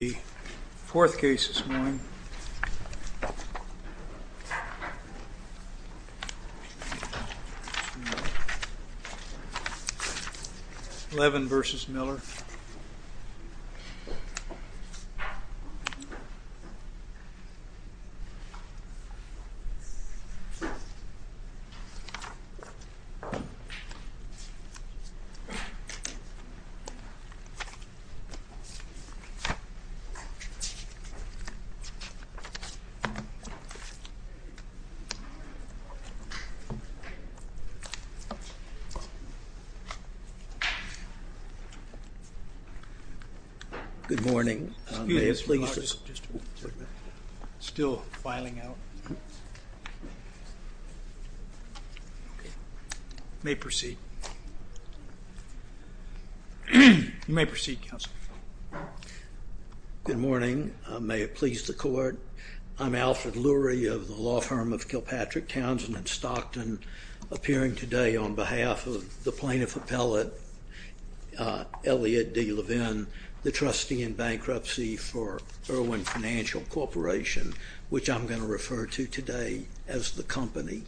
The fourth case this morning, Levin v. Miller. Good morning, may I please just... Still filing out. May proceed. Good morning, may it please the court, I'm Alfred Lurie of the law firm of Kilpatrick Townsend in Stockton, appearing today on behalf of the plaintiff appellate, Elliot D. Levin, the trustee in bankruptcy for Irwin Financial Corporation, which I'm going to refer to today as the company.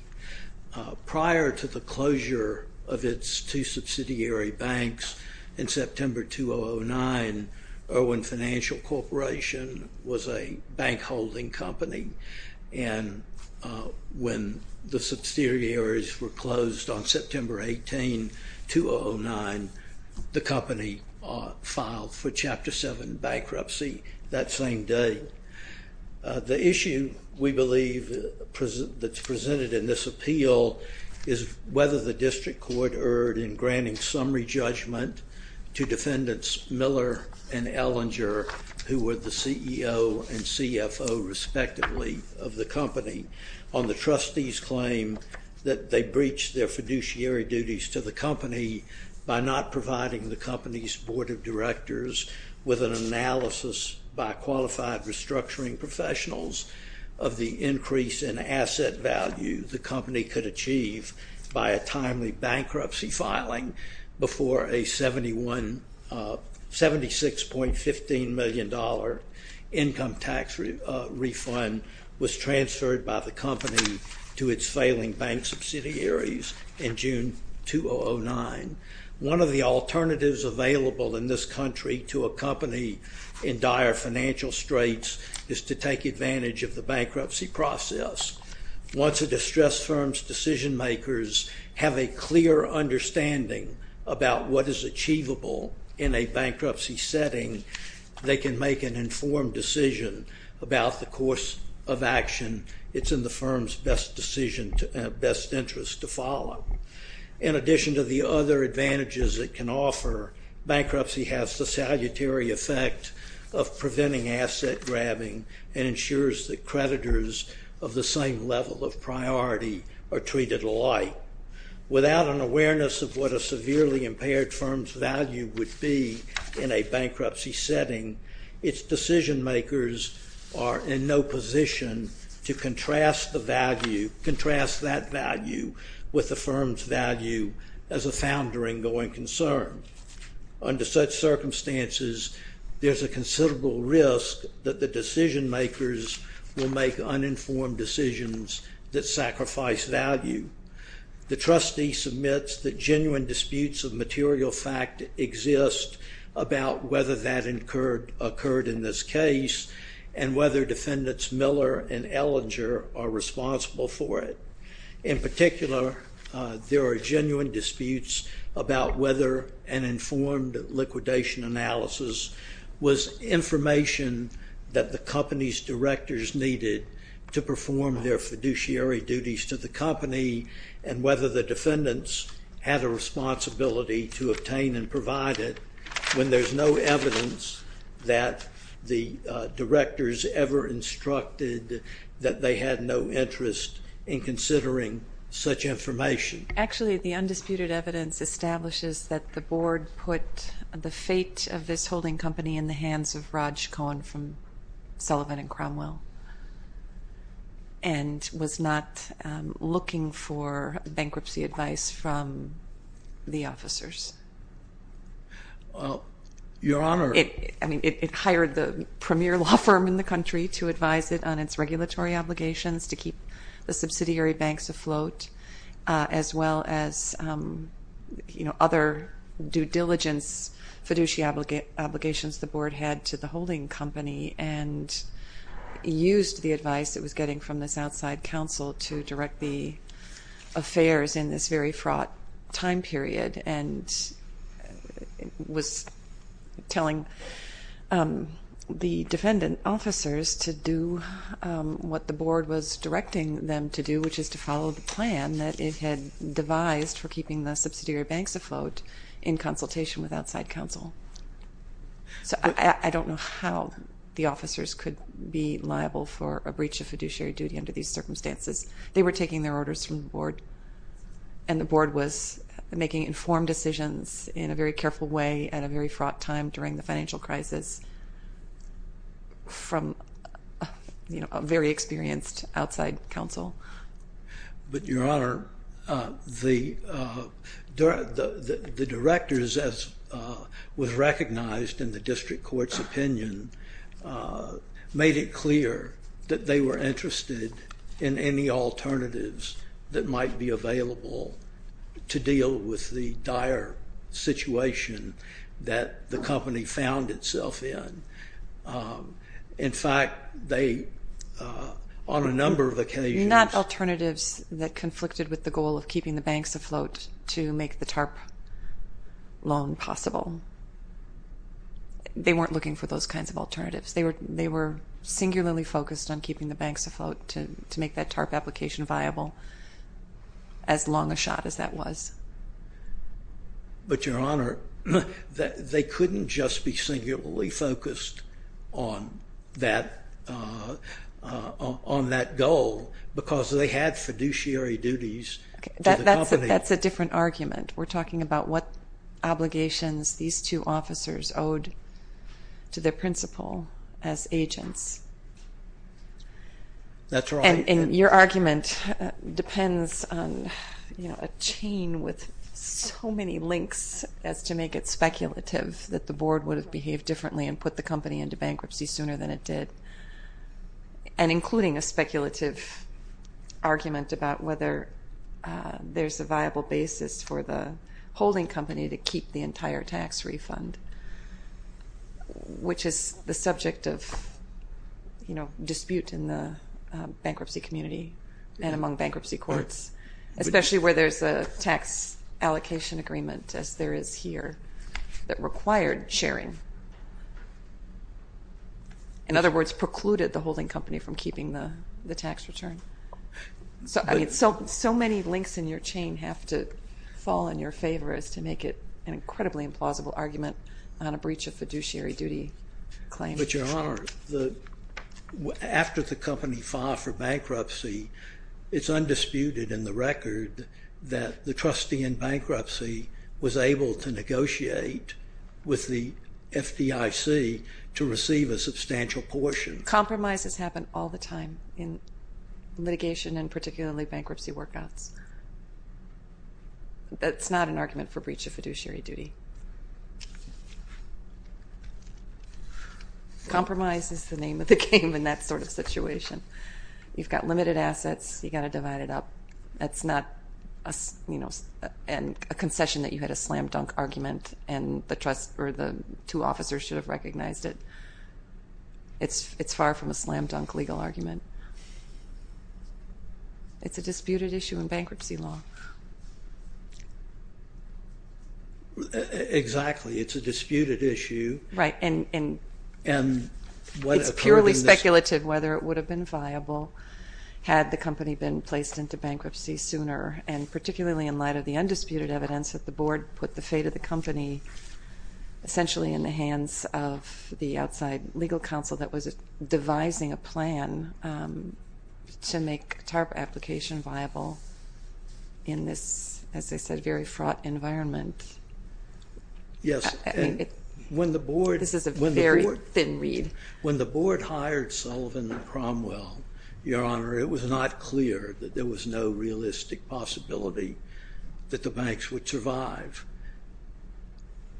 Prior to the closure of its two subsidiary banks in September 2009, Irwin Financial Corporation was a bank holding company, and when the subsidiaries were closed on September 18, 2009, the company filed for Chapter 7 bankruptcy that same day. The issue, we believe, that's presented in this appeal is whether the district court erred in granting summary judgment to defendants Miller and Ellinger, who were the CEO and CFO, respectively, of the company on the trustee's claim that they breached their fiduciary duties to the company by not providing the company's board of directors with an analysis by qualified restructuring professionals of the increase in asset value the company could achieve by a timely bankruptcy filing before a $76.15 million income tax refund was transferred by the company to its failing bank subsidiaries in June 2009. One of the alternatives available in this country to a company in dire financial straits is to take advantage of the bankruptcy process. Once a distressed firm's decision makers have a clear understanding about what is achievable in a bankruptcy setting, they can make an informed decision about the course of action it's in the firm's best decision, best interest to follow. In addition to the other advantages it can offer, bankruptcy has the salutary effect of preventing asset grabbing and ensures that creditors of the same level of priority are treated alike. Without an awareness of what a severely impaired firm's value would be in a bankruptcy setting, its decision makers are in no position to contrast that value with the firm's value as a founder in going concern. Under such circumstances, there's a considerable risk that the decision makers will make uninformed decisions that sacrifice value. The trustee submits that genuine disputes of material fact exist about whether that occurred in this case and whether defendants Miller and Ellinger are responsible for it. In particular, there are genuine disputes about whether an informed liquidation analysis was information that the company's directors needed to perform their fiduciary duties to the company and whether the defendants had a responsibility to obtain and provide it when there's no evidence that the directors ever instructed that they had no interest in considering such information. Actually, the undisputed evidence establishes that the board put the fate of this holding company in the hands of Raj Cohen from Sullivan and Cromwell and was not looking for bankruptcy advice from the officers. Well, Your Honor. I mean, it hired the premier law firm in the country to advise it on its regulatory obligations to keep the subsidiary banks afloat as well as, you know, other due diligence fiduciary obligations the board had to the holding company and used the advice it was getting from this and was telling the defendant officers to do what the board was directing them to do, which is to follow the plan that it had devised for keeping the subsidiary banks afloat in consultation with outside counsel. So I don't know how the officers could be liable for a breach of fiduciary duty under these circumstances. They were taking their orders from the board, and the board was making informed decisions in a very careful way at a very fraught time during the financial crisis from a very experienced outside counsel. But Your Honor, the directors, as was recognized in the district court's opinion, made it clear that they were interested in any alternatives that might be available to deal with the dire situation that the company found itself in. In fact, they, on a number of occasions— Not alternatives that conflicted with the goal of keeping the banks afloat to make the TARP loan possible. They weren't looking for those kinds of alternatives. They were singularly focused on keeping the banks afloat to make that TARP application viable as long a shot as that was. But Your Honor, they couldn't just be singularly focused on that goal because they had fiduciary duties to the company. That's a different argument. We're talking about what obligations these two officers owed to their principal as agents. That's right. And your argument depends on, you know, a chain with so many links as to make it speculative that the board would have behaved differently and put the company into bankruptcy sooner than it did. And including a speculative argument about whether there's a viable basis for the holding company to keep the entire tax refund, which is the subject of, you know, dispute in the bankruptcy community and among bankruptcy courts, especially where there's a tax allocation agreement, as there is here, that required sharing. In other words, precluded the holding company from keeping the tax return. So, I mean, so many links in your chain have to fall in your favor as to make it an incredibly implausible argument on a breach of fiduciary duty claim. But Your Honor, after the company filed for bankruptcy, it's undisputed in the record that the trustee in bankruptcy was able to negotiate with the FDIC to receive a substantial portion. Compromises happen all the time in litigation and particularly bankruptcy workouts. That's not an argument for breach of fiduciary duty. Compromise is the name of the game in that sort of situation. You've got limited assets. You've got to divide it up. That's not, you know, a concession that you had a slam-dunk argument and the trust or the two officers should have recognized it. It's far from a slam-dunk legal argument. It's a disputed issue in bankruptcy law. Exactly, it's a disputed issue. Right. And it's purely speculative whether it would have been viable had the company been placed into bankruptcy sooner and particularly in light of the undisputed evidence that the board put the fate of the company essentially in the hands of the outside legal counsel that was devising a plan to make TARP application viable in this, as I said, very fraught environment. Yes, and when the board... This is a very thin read. When the board hired Sullivan and Cromwell, Your Honor, it was not clear that there was no realistic possibility that the banks would survive.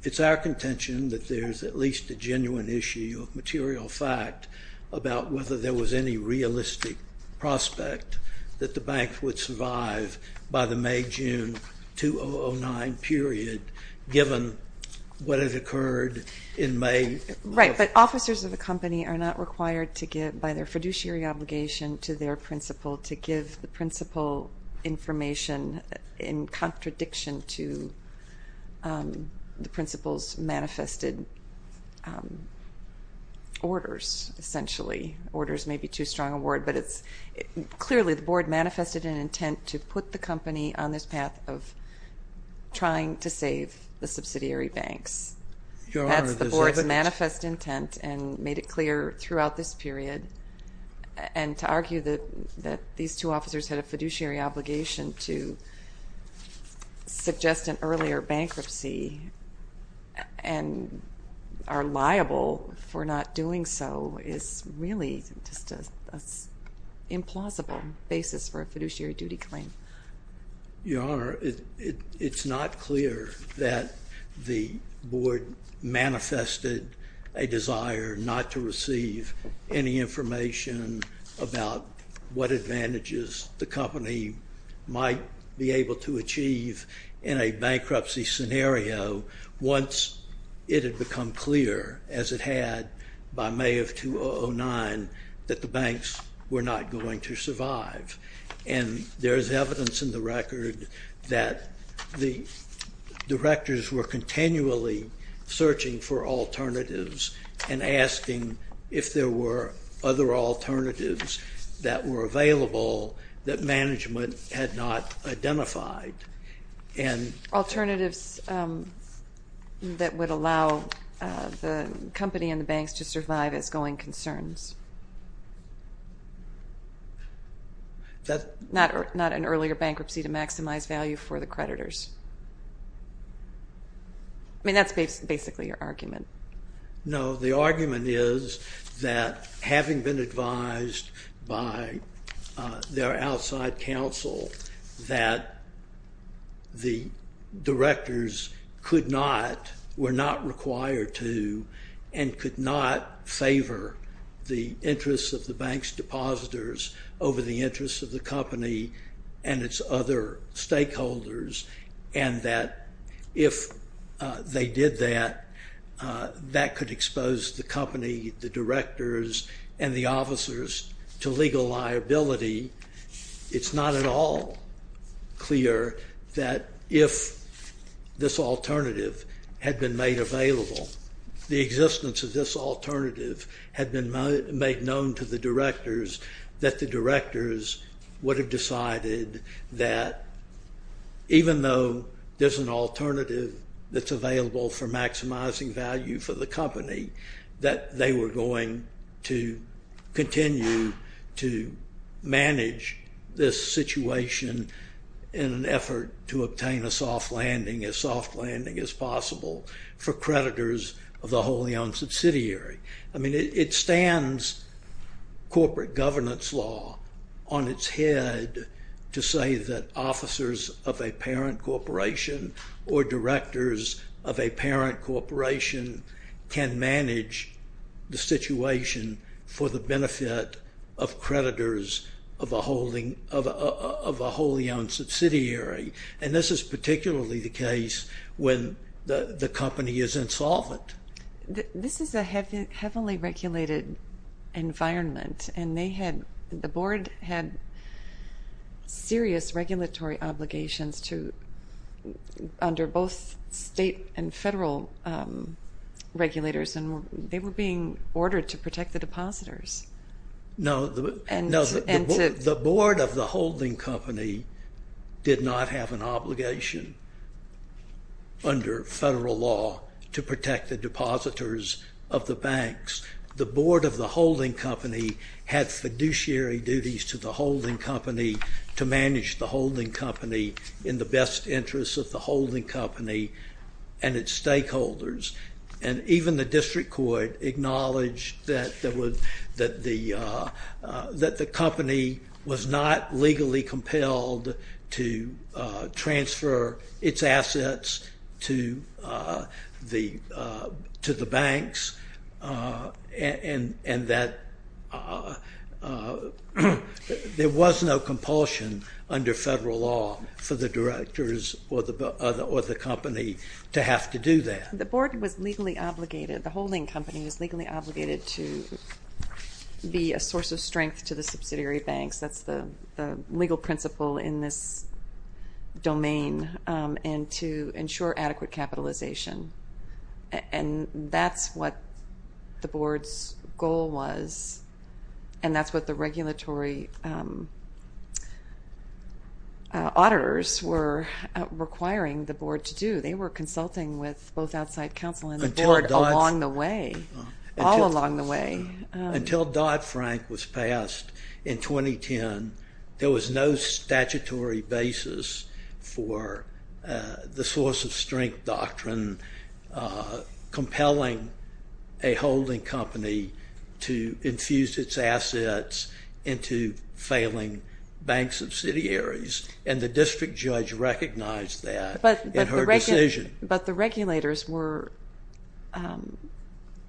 It's our contention that there's at least a genuine issue of material fact about whether there was any realistic prospect that the banks would survive by the May-June 2009 period given what had occurred in May. Right. But officers of the company are not required to give by their fiduciary obligation to their principal to give the principal information in contradiction to the principal's manifested orders essentially. Orders may be too strong a word, but it's clearly the board manifested an intent to put the company on this path of trying to save the subsidiary banks. Your Honor, there's evidence... That's the board's manifest intent and made it clear throughout this period. And to argue that these two officers had a fiduciary obligation to suggest an earlier bankruptcy and are liable for not doing so is really just an implausible basis for a fiduciary duty claim. Your Honor, it's not clear that the board manifested a desire not to receive any information about what advantages the company might be able to achieve in a bankruptcy scenario once it had become clear, as it had by May of 2009, that the banks were not going to survive. And there's evidence in the record that the directors were continually searching for alternatives and asking if there were other alternatives that were available that management had not identified. Alternatives that would allow the company and the banks to survive as going concerns. Not an earlier bankruptcy to maximize value for the creditors. I mean, that's basically your argument. No, the argument is that having been advised by their outside counsel that the directors were not required to and could not favor the interests of the bank's depositors over the interests of the company and its other stakeholders. And that if they did that, that could expose the company, the directors, and the officers to legal liability. It's not at all clear that if this alternative had been made available, the existence of this alternative had been made known to the directors, that the directors would have decided that even though there's an alternative that's available for maximizing value for the company, that they were going to continue to manage this situation in an effort to obtain a soft landing, as soft landing as possible, for creditors of the wholly owned subsidiary. I mean, it stands corporate governance law on its head to say that officers of a parent corporation can manage the situation for the benefit of creditors of a wholly owned subsidiary. And this is particularly the case when the company is insolvent. This is a heavily regulated environment, and the board had serious regulatory obligations under both state and federal regulators, and they were being ordered to protect the depositors. No, the board of the holding company did not have an obligation under federal law to protect the depositors of the banks. The board of the holding company had fiduciary duties to the holding company to manage the in the best interest of the holding company and its stakeholders. And even the district court acknowledged that the company was not legally compelled to transfer its assets to the banks and that there was no compulsion under federal law for the directors or the company to have to do that. The board was legally obligated, the holding company was legally obligated, to be a source of strength to the subsidiary banks. That's the legal principle in this domain, and to ensure adequate capitalization. And that's what the board's goal was, and that's what the regulatory auditors were requiring the board to do. They were consulting with both outside counsel and the board along the way, all along the way. Until Dodd-Frank was passed in 2010, there was no statutory basis for the source of strength doctrine compelling a holding company to infuse its assets into failing bank subsidiaries, and the district judge recognized that in her decision. But the regulators were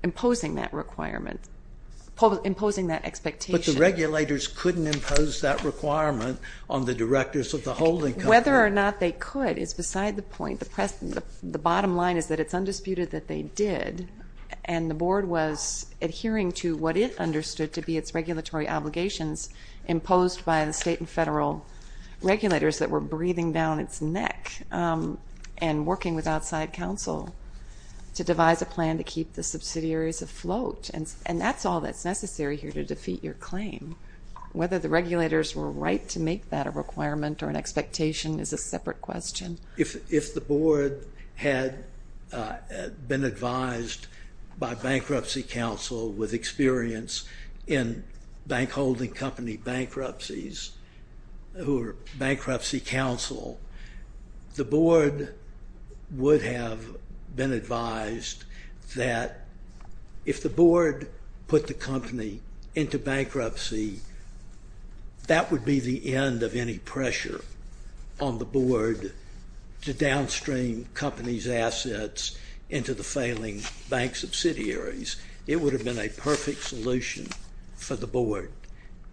imposing that requirement, imposing that expectation. But the regulators couldn't impose that requirement on the directors of the holding company. Whether or not they could is beside the point. The bottom line is that it's undisputed that they did. And the board was adhering to what it understood to be its regulatory obligations imposed by the state and federal regulators that were breathing down its neck and working with outside counsel to devise a plan to keep the subsidiaries afloat. And that's all that's necessary here to defeat your claim. Whether the regulators were right to make that a requirement or an expectation is a separate question. If the board had been advised by bankruptcy counsel with experience in bank holding company bankruptcies who are bankruptcy counsel, the board would have been advised that if the board put the company into bankruptcy, that would be the end of any pressure on the board to downstream companies' assets into the failing bank subsidiaries. It would have been a perfect solution for the board.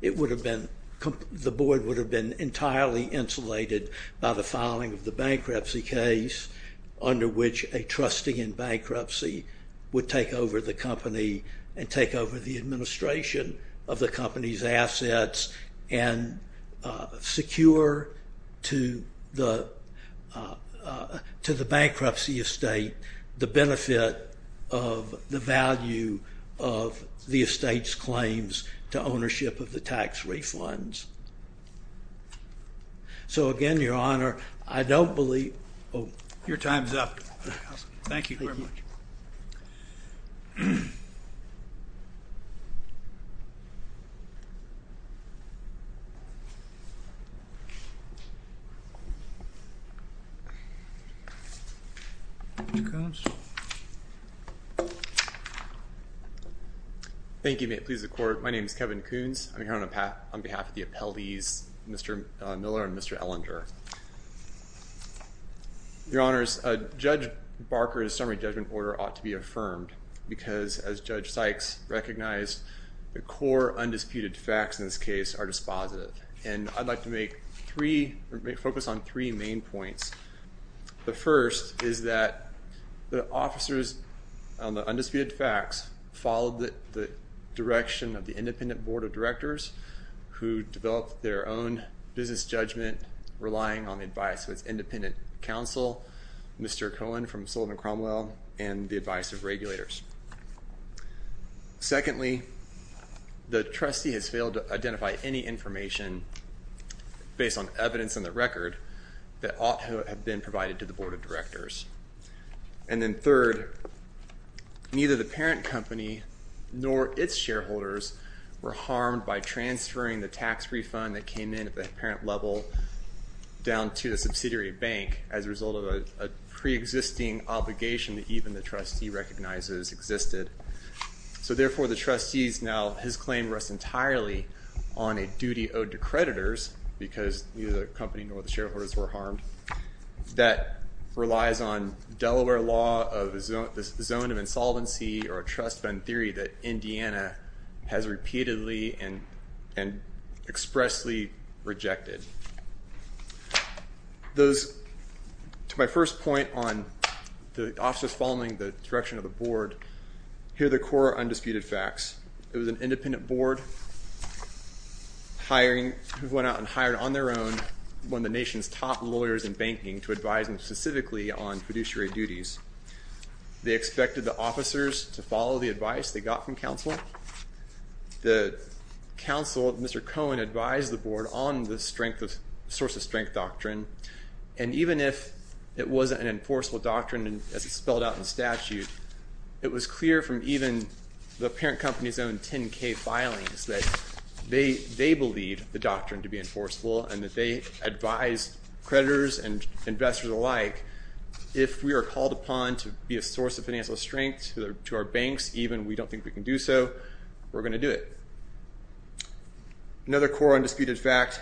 The board would have been entirely insulated by the filing of the bankruptcy case under which a trustee in bankruptcy would take over the company and take over the administration of the company's assets and secure to the bankruptcy estate the benefit of the value of the estate's claims to ownership of the tax refunds. So, again, Your Honor, I don't believe... Your time is up. Thank you very much. Thank you. May it please the Court. My name is Kevin Coons. I'm here on behalf of the appellees, Mr. Miller and Mr. Ellinger. Your Honors, Judge Barker's summary judgment order ought to be affirmed because, as Judge Sykes recognized, the core undisputed facts in this case are dispositive, and I'd like to focus on three main points. The first is that the officers on the undisputed facts who developed their own business judgment relying on the advice of its independent counsel, Mr. Cohen from Sullivan-Cromwell, and the advice of regulators. Secondly, the trustee has failed to identify any information based on evidence in the record that ought to have been provided to the board of directors. And then third, neither the parent company nor its shareholders were harmed by transferring the tax refund that came in at the parent level down to the subsidiary bank as a result of a preexisting obligation that even the trustee recognizes existed. So, therefore, the trustee's now... His claim rests entirely on a duty owed to creditors because neither the company nor the shareholders were harmed that relies on Delaware law of the zone of insolvency or a trust fund theory that Indiana has repeatedly and expressly rejected. Those, to my first point on the officers following the direction of the board, here are the core undisputed facts. It was an independent board who went out and hired on their own one of the nation's top lawyers in banking to advise them specifically on fiduciary duties. They expected the officers to follow the advice they got from counsel. The counsel, Mr. Cohen, advised the board on the source of strength doctrine, and even if it wasn't an enforceable doctrine as it's spelled out in the statute, it was clear from even the parent company's own 10-K filings that they believe the doctrine to be enforceable and that they advised creditors and investors alike if we are called upon to be a source of financial strength to our banks, even if we don't think we can do so, we're going to do it. Another core undisputed fact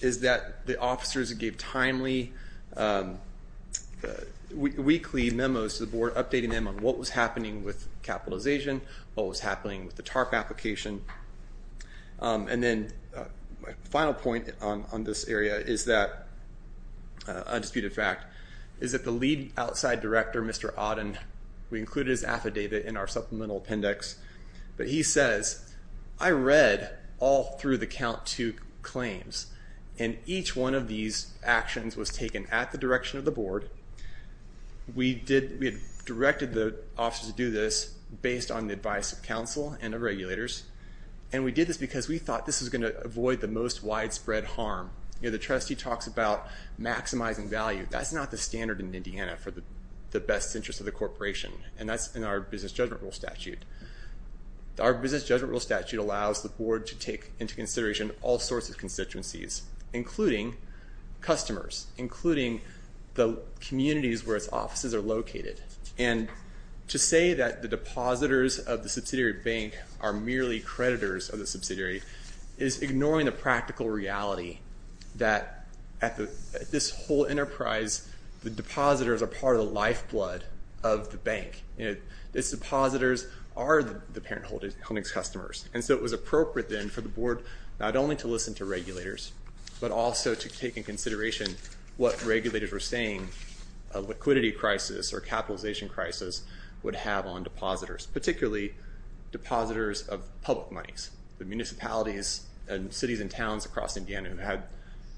is that the officers gave timely weekly memos to the board updating them on what was happening with capitalization, what was happening with the TARP application. And then my final point on this area is that undisputed fact is that the lead outside director, Mr. Odden, we included his affidavit in our supplemental appendix, but he says, I read all through the count to claims, and each one of these actions was taken at the direction of the board. We had directed the officers to do this based on the advice of counsel and the regulators, and we did this because we thought this was going to avoid the most widespread harm. The trustee talks about maximizing value. That's not the standard in Indiana for the best interest of the corporation, and that's in our business judgment rule statute. Our business judgment rule statute allows the board to take into consideration all sorts of constituencies, including customers, including the communities where its offices are located. And to say that the depositors of the subsidiary bank are merely creditors of the subsidiary is ignoring the practical reality that at this whole enterprise, the depositors are part of the lifeblood of the bank. Its depositors are the parent holding's customers. And so it was appropriate then for the board not only to listen to regulators, but also to take into consideration what regulators were saying a liquidity crisis or capitalization crisis would have on depositors, particularly depositors of public monies. The municipalities and cities and towns across Indiana had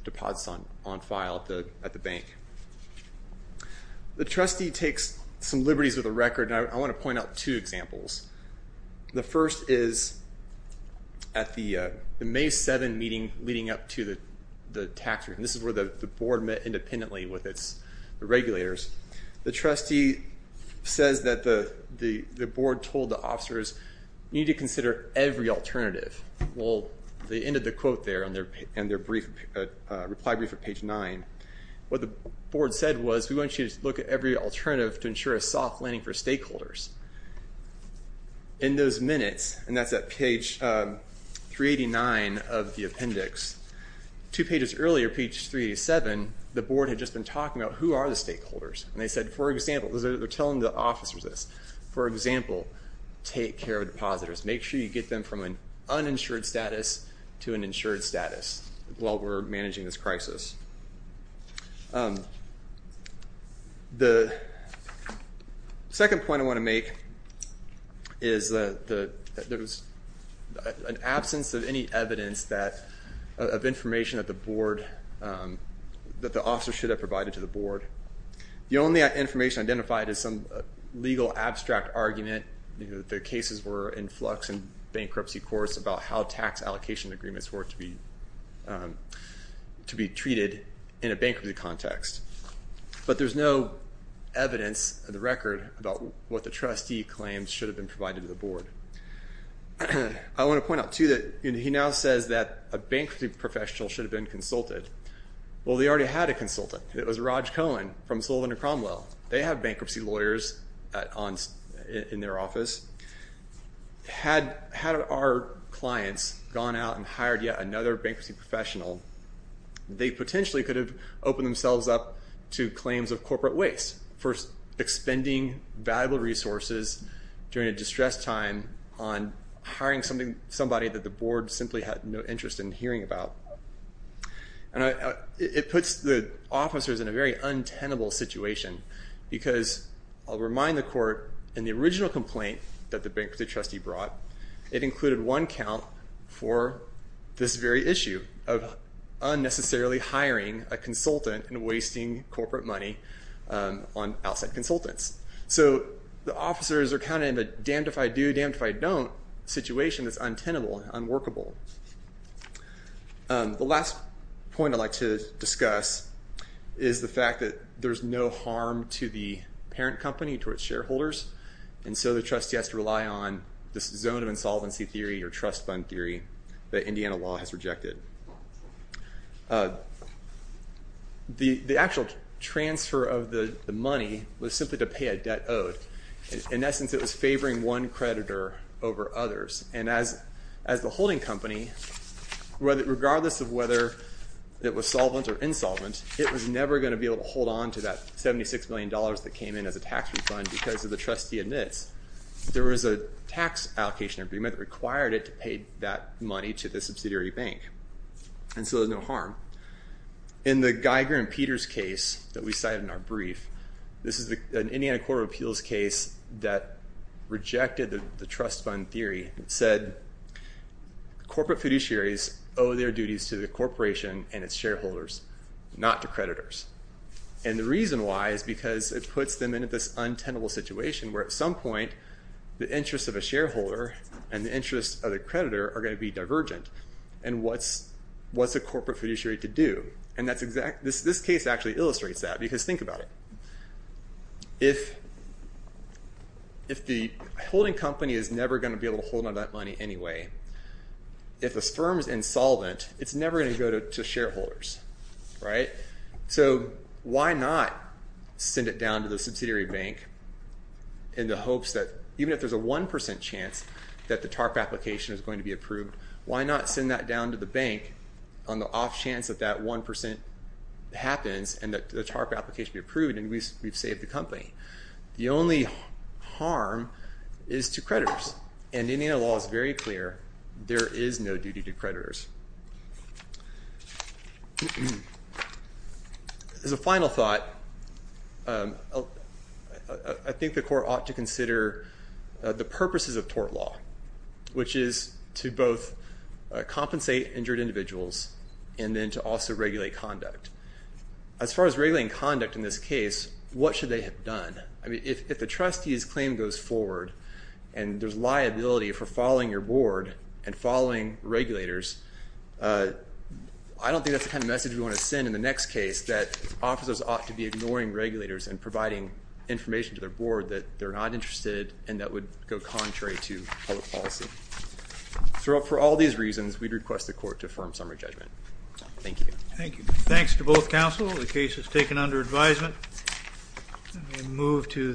deposits on file at the bank. The trustee takes some liberties with the record, and I want to point out two examples. The first is at the May 7 meeting leading up to the tax return. This is where the board met independently with its regulators. The trustee says that the board told the officers, you need to consider every alternative. Well, they ended the quote there in their reply brief at page 9. What the board said was, we want you to look at every alternative to ensure a soft landing for stakeholders. In those minutes, and that's at page 389 of the appendix, two pages earlier, page 387, the board had just been talking about who are the stakeholders. And they said, for example, they're telling the officers this. For example, take care of depositors. Make sure you get them from an uninsured status to an insured status while we're managing this crisis. The second point I want to make is that there was an absence of any evidence of information that the board, that the officers should have provided to the board. The only information identified is some legal abstract argument. The cases were in flux and bankruptcy courts about how tax allocation agreements were to be treated in a bankruptcy context. But there's no evidence of the record about what the trustee claims should have been provided to the board. I want to point out, too, that he now says that a bankruptcy professional should have been consulted. Well, they already had a consultant. It was Raj Cohen from Sullivan and Cromwell. They have bankruptcy lawyers in their office. Had our clients gone out and hired yet another bankruptcy professional, they potentially could have opened themselves up to claims of corporate waste for expending valuable resources during a distressed time on hiring somebody that the board simply had no interest in hearing about. It puts the officers in a very untenable situation because I'll remind the court, in the original complaint that the bankruptcy trustee brought, it included one count for this very issue of unnecessarily hiring a consultant and wasting corporate money on outside consultants. So the officers are kind of in a damned if I do, damned if I don't situation that's untenable, unworkable. The last point I'd like to discuss is the fact that there's no harm to the parent company, to its shareholders, and so the trustee has to rely on this zone of insolvency theory or trust fund theory that Indiana law has rejected. The actual transfer of the money was simply to pay a debt owed. In essence, it was favoring one creditor over others. And as the holding company, regardless of whether it was solvent or insolvent, it was never going to be able to hold on to that $76 million that came in as a tax refund because of the trustee admits. There was a tax allocation agreement that required it to pay that money to the subsidiary bank. And so there's no harm. In the Geiger and Peters case that we cited in our brief, this is an Indiana Court of Appeals case that rejected the trust fund theory. It said corporate fiduciaries owe their duties to the corporation and its shareholders, not to creditors. And the reason why is because it puts them into this untenable situation where at some point the interests of a shareholder and the interests of the creditor are going to be divergent. And what's a corporate fiduciary to do? And this case actually illustrates that because think about it. If the holding company is never going to be able to hold on that money anyway, if a firm is insolvent, it's never going to go to shareholders. So why not send it down to the subsidiary bank in the hopes that even if there's a 1% chance that the TARP application is going to be approved, why not send that down to the bank on the off chance that that 1% happens and that the TARP application be approved and we've saved the company? The only harm is to creditors. And Indiana law is very clear. There is no duty to creditors. As a final thought, I think the court ought to consider the purposes of tort law, which is to both compensate injured individuals and then to also regulate conduct. As far as regulating conduct in this case, what should they have done? I mean, if the trustee's claim goes forward and there's liability for following your board and following regulators, I don't think that's the kind of message we want to send in the next case that officers ought to be ignoring regulators and providing information to their board that they're not interested and that would go contrary to public policy. So for all these reasons, we'd request the court to affirm summary judgment. Thank you. Thank you. Thanks to both counsel. The case is taken under advisement. Move to the.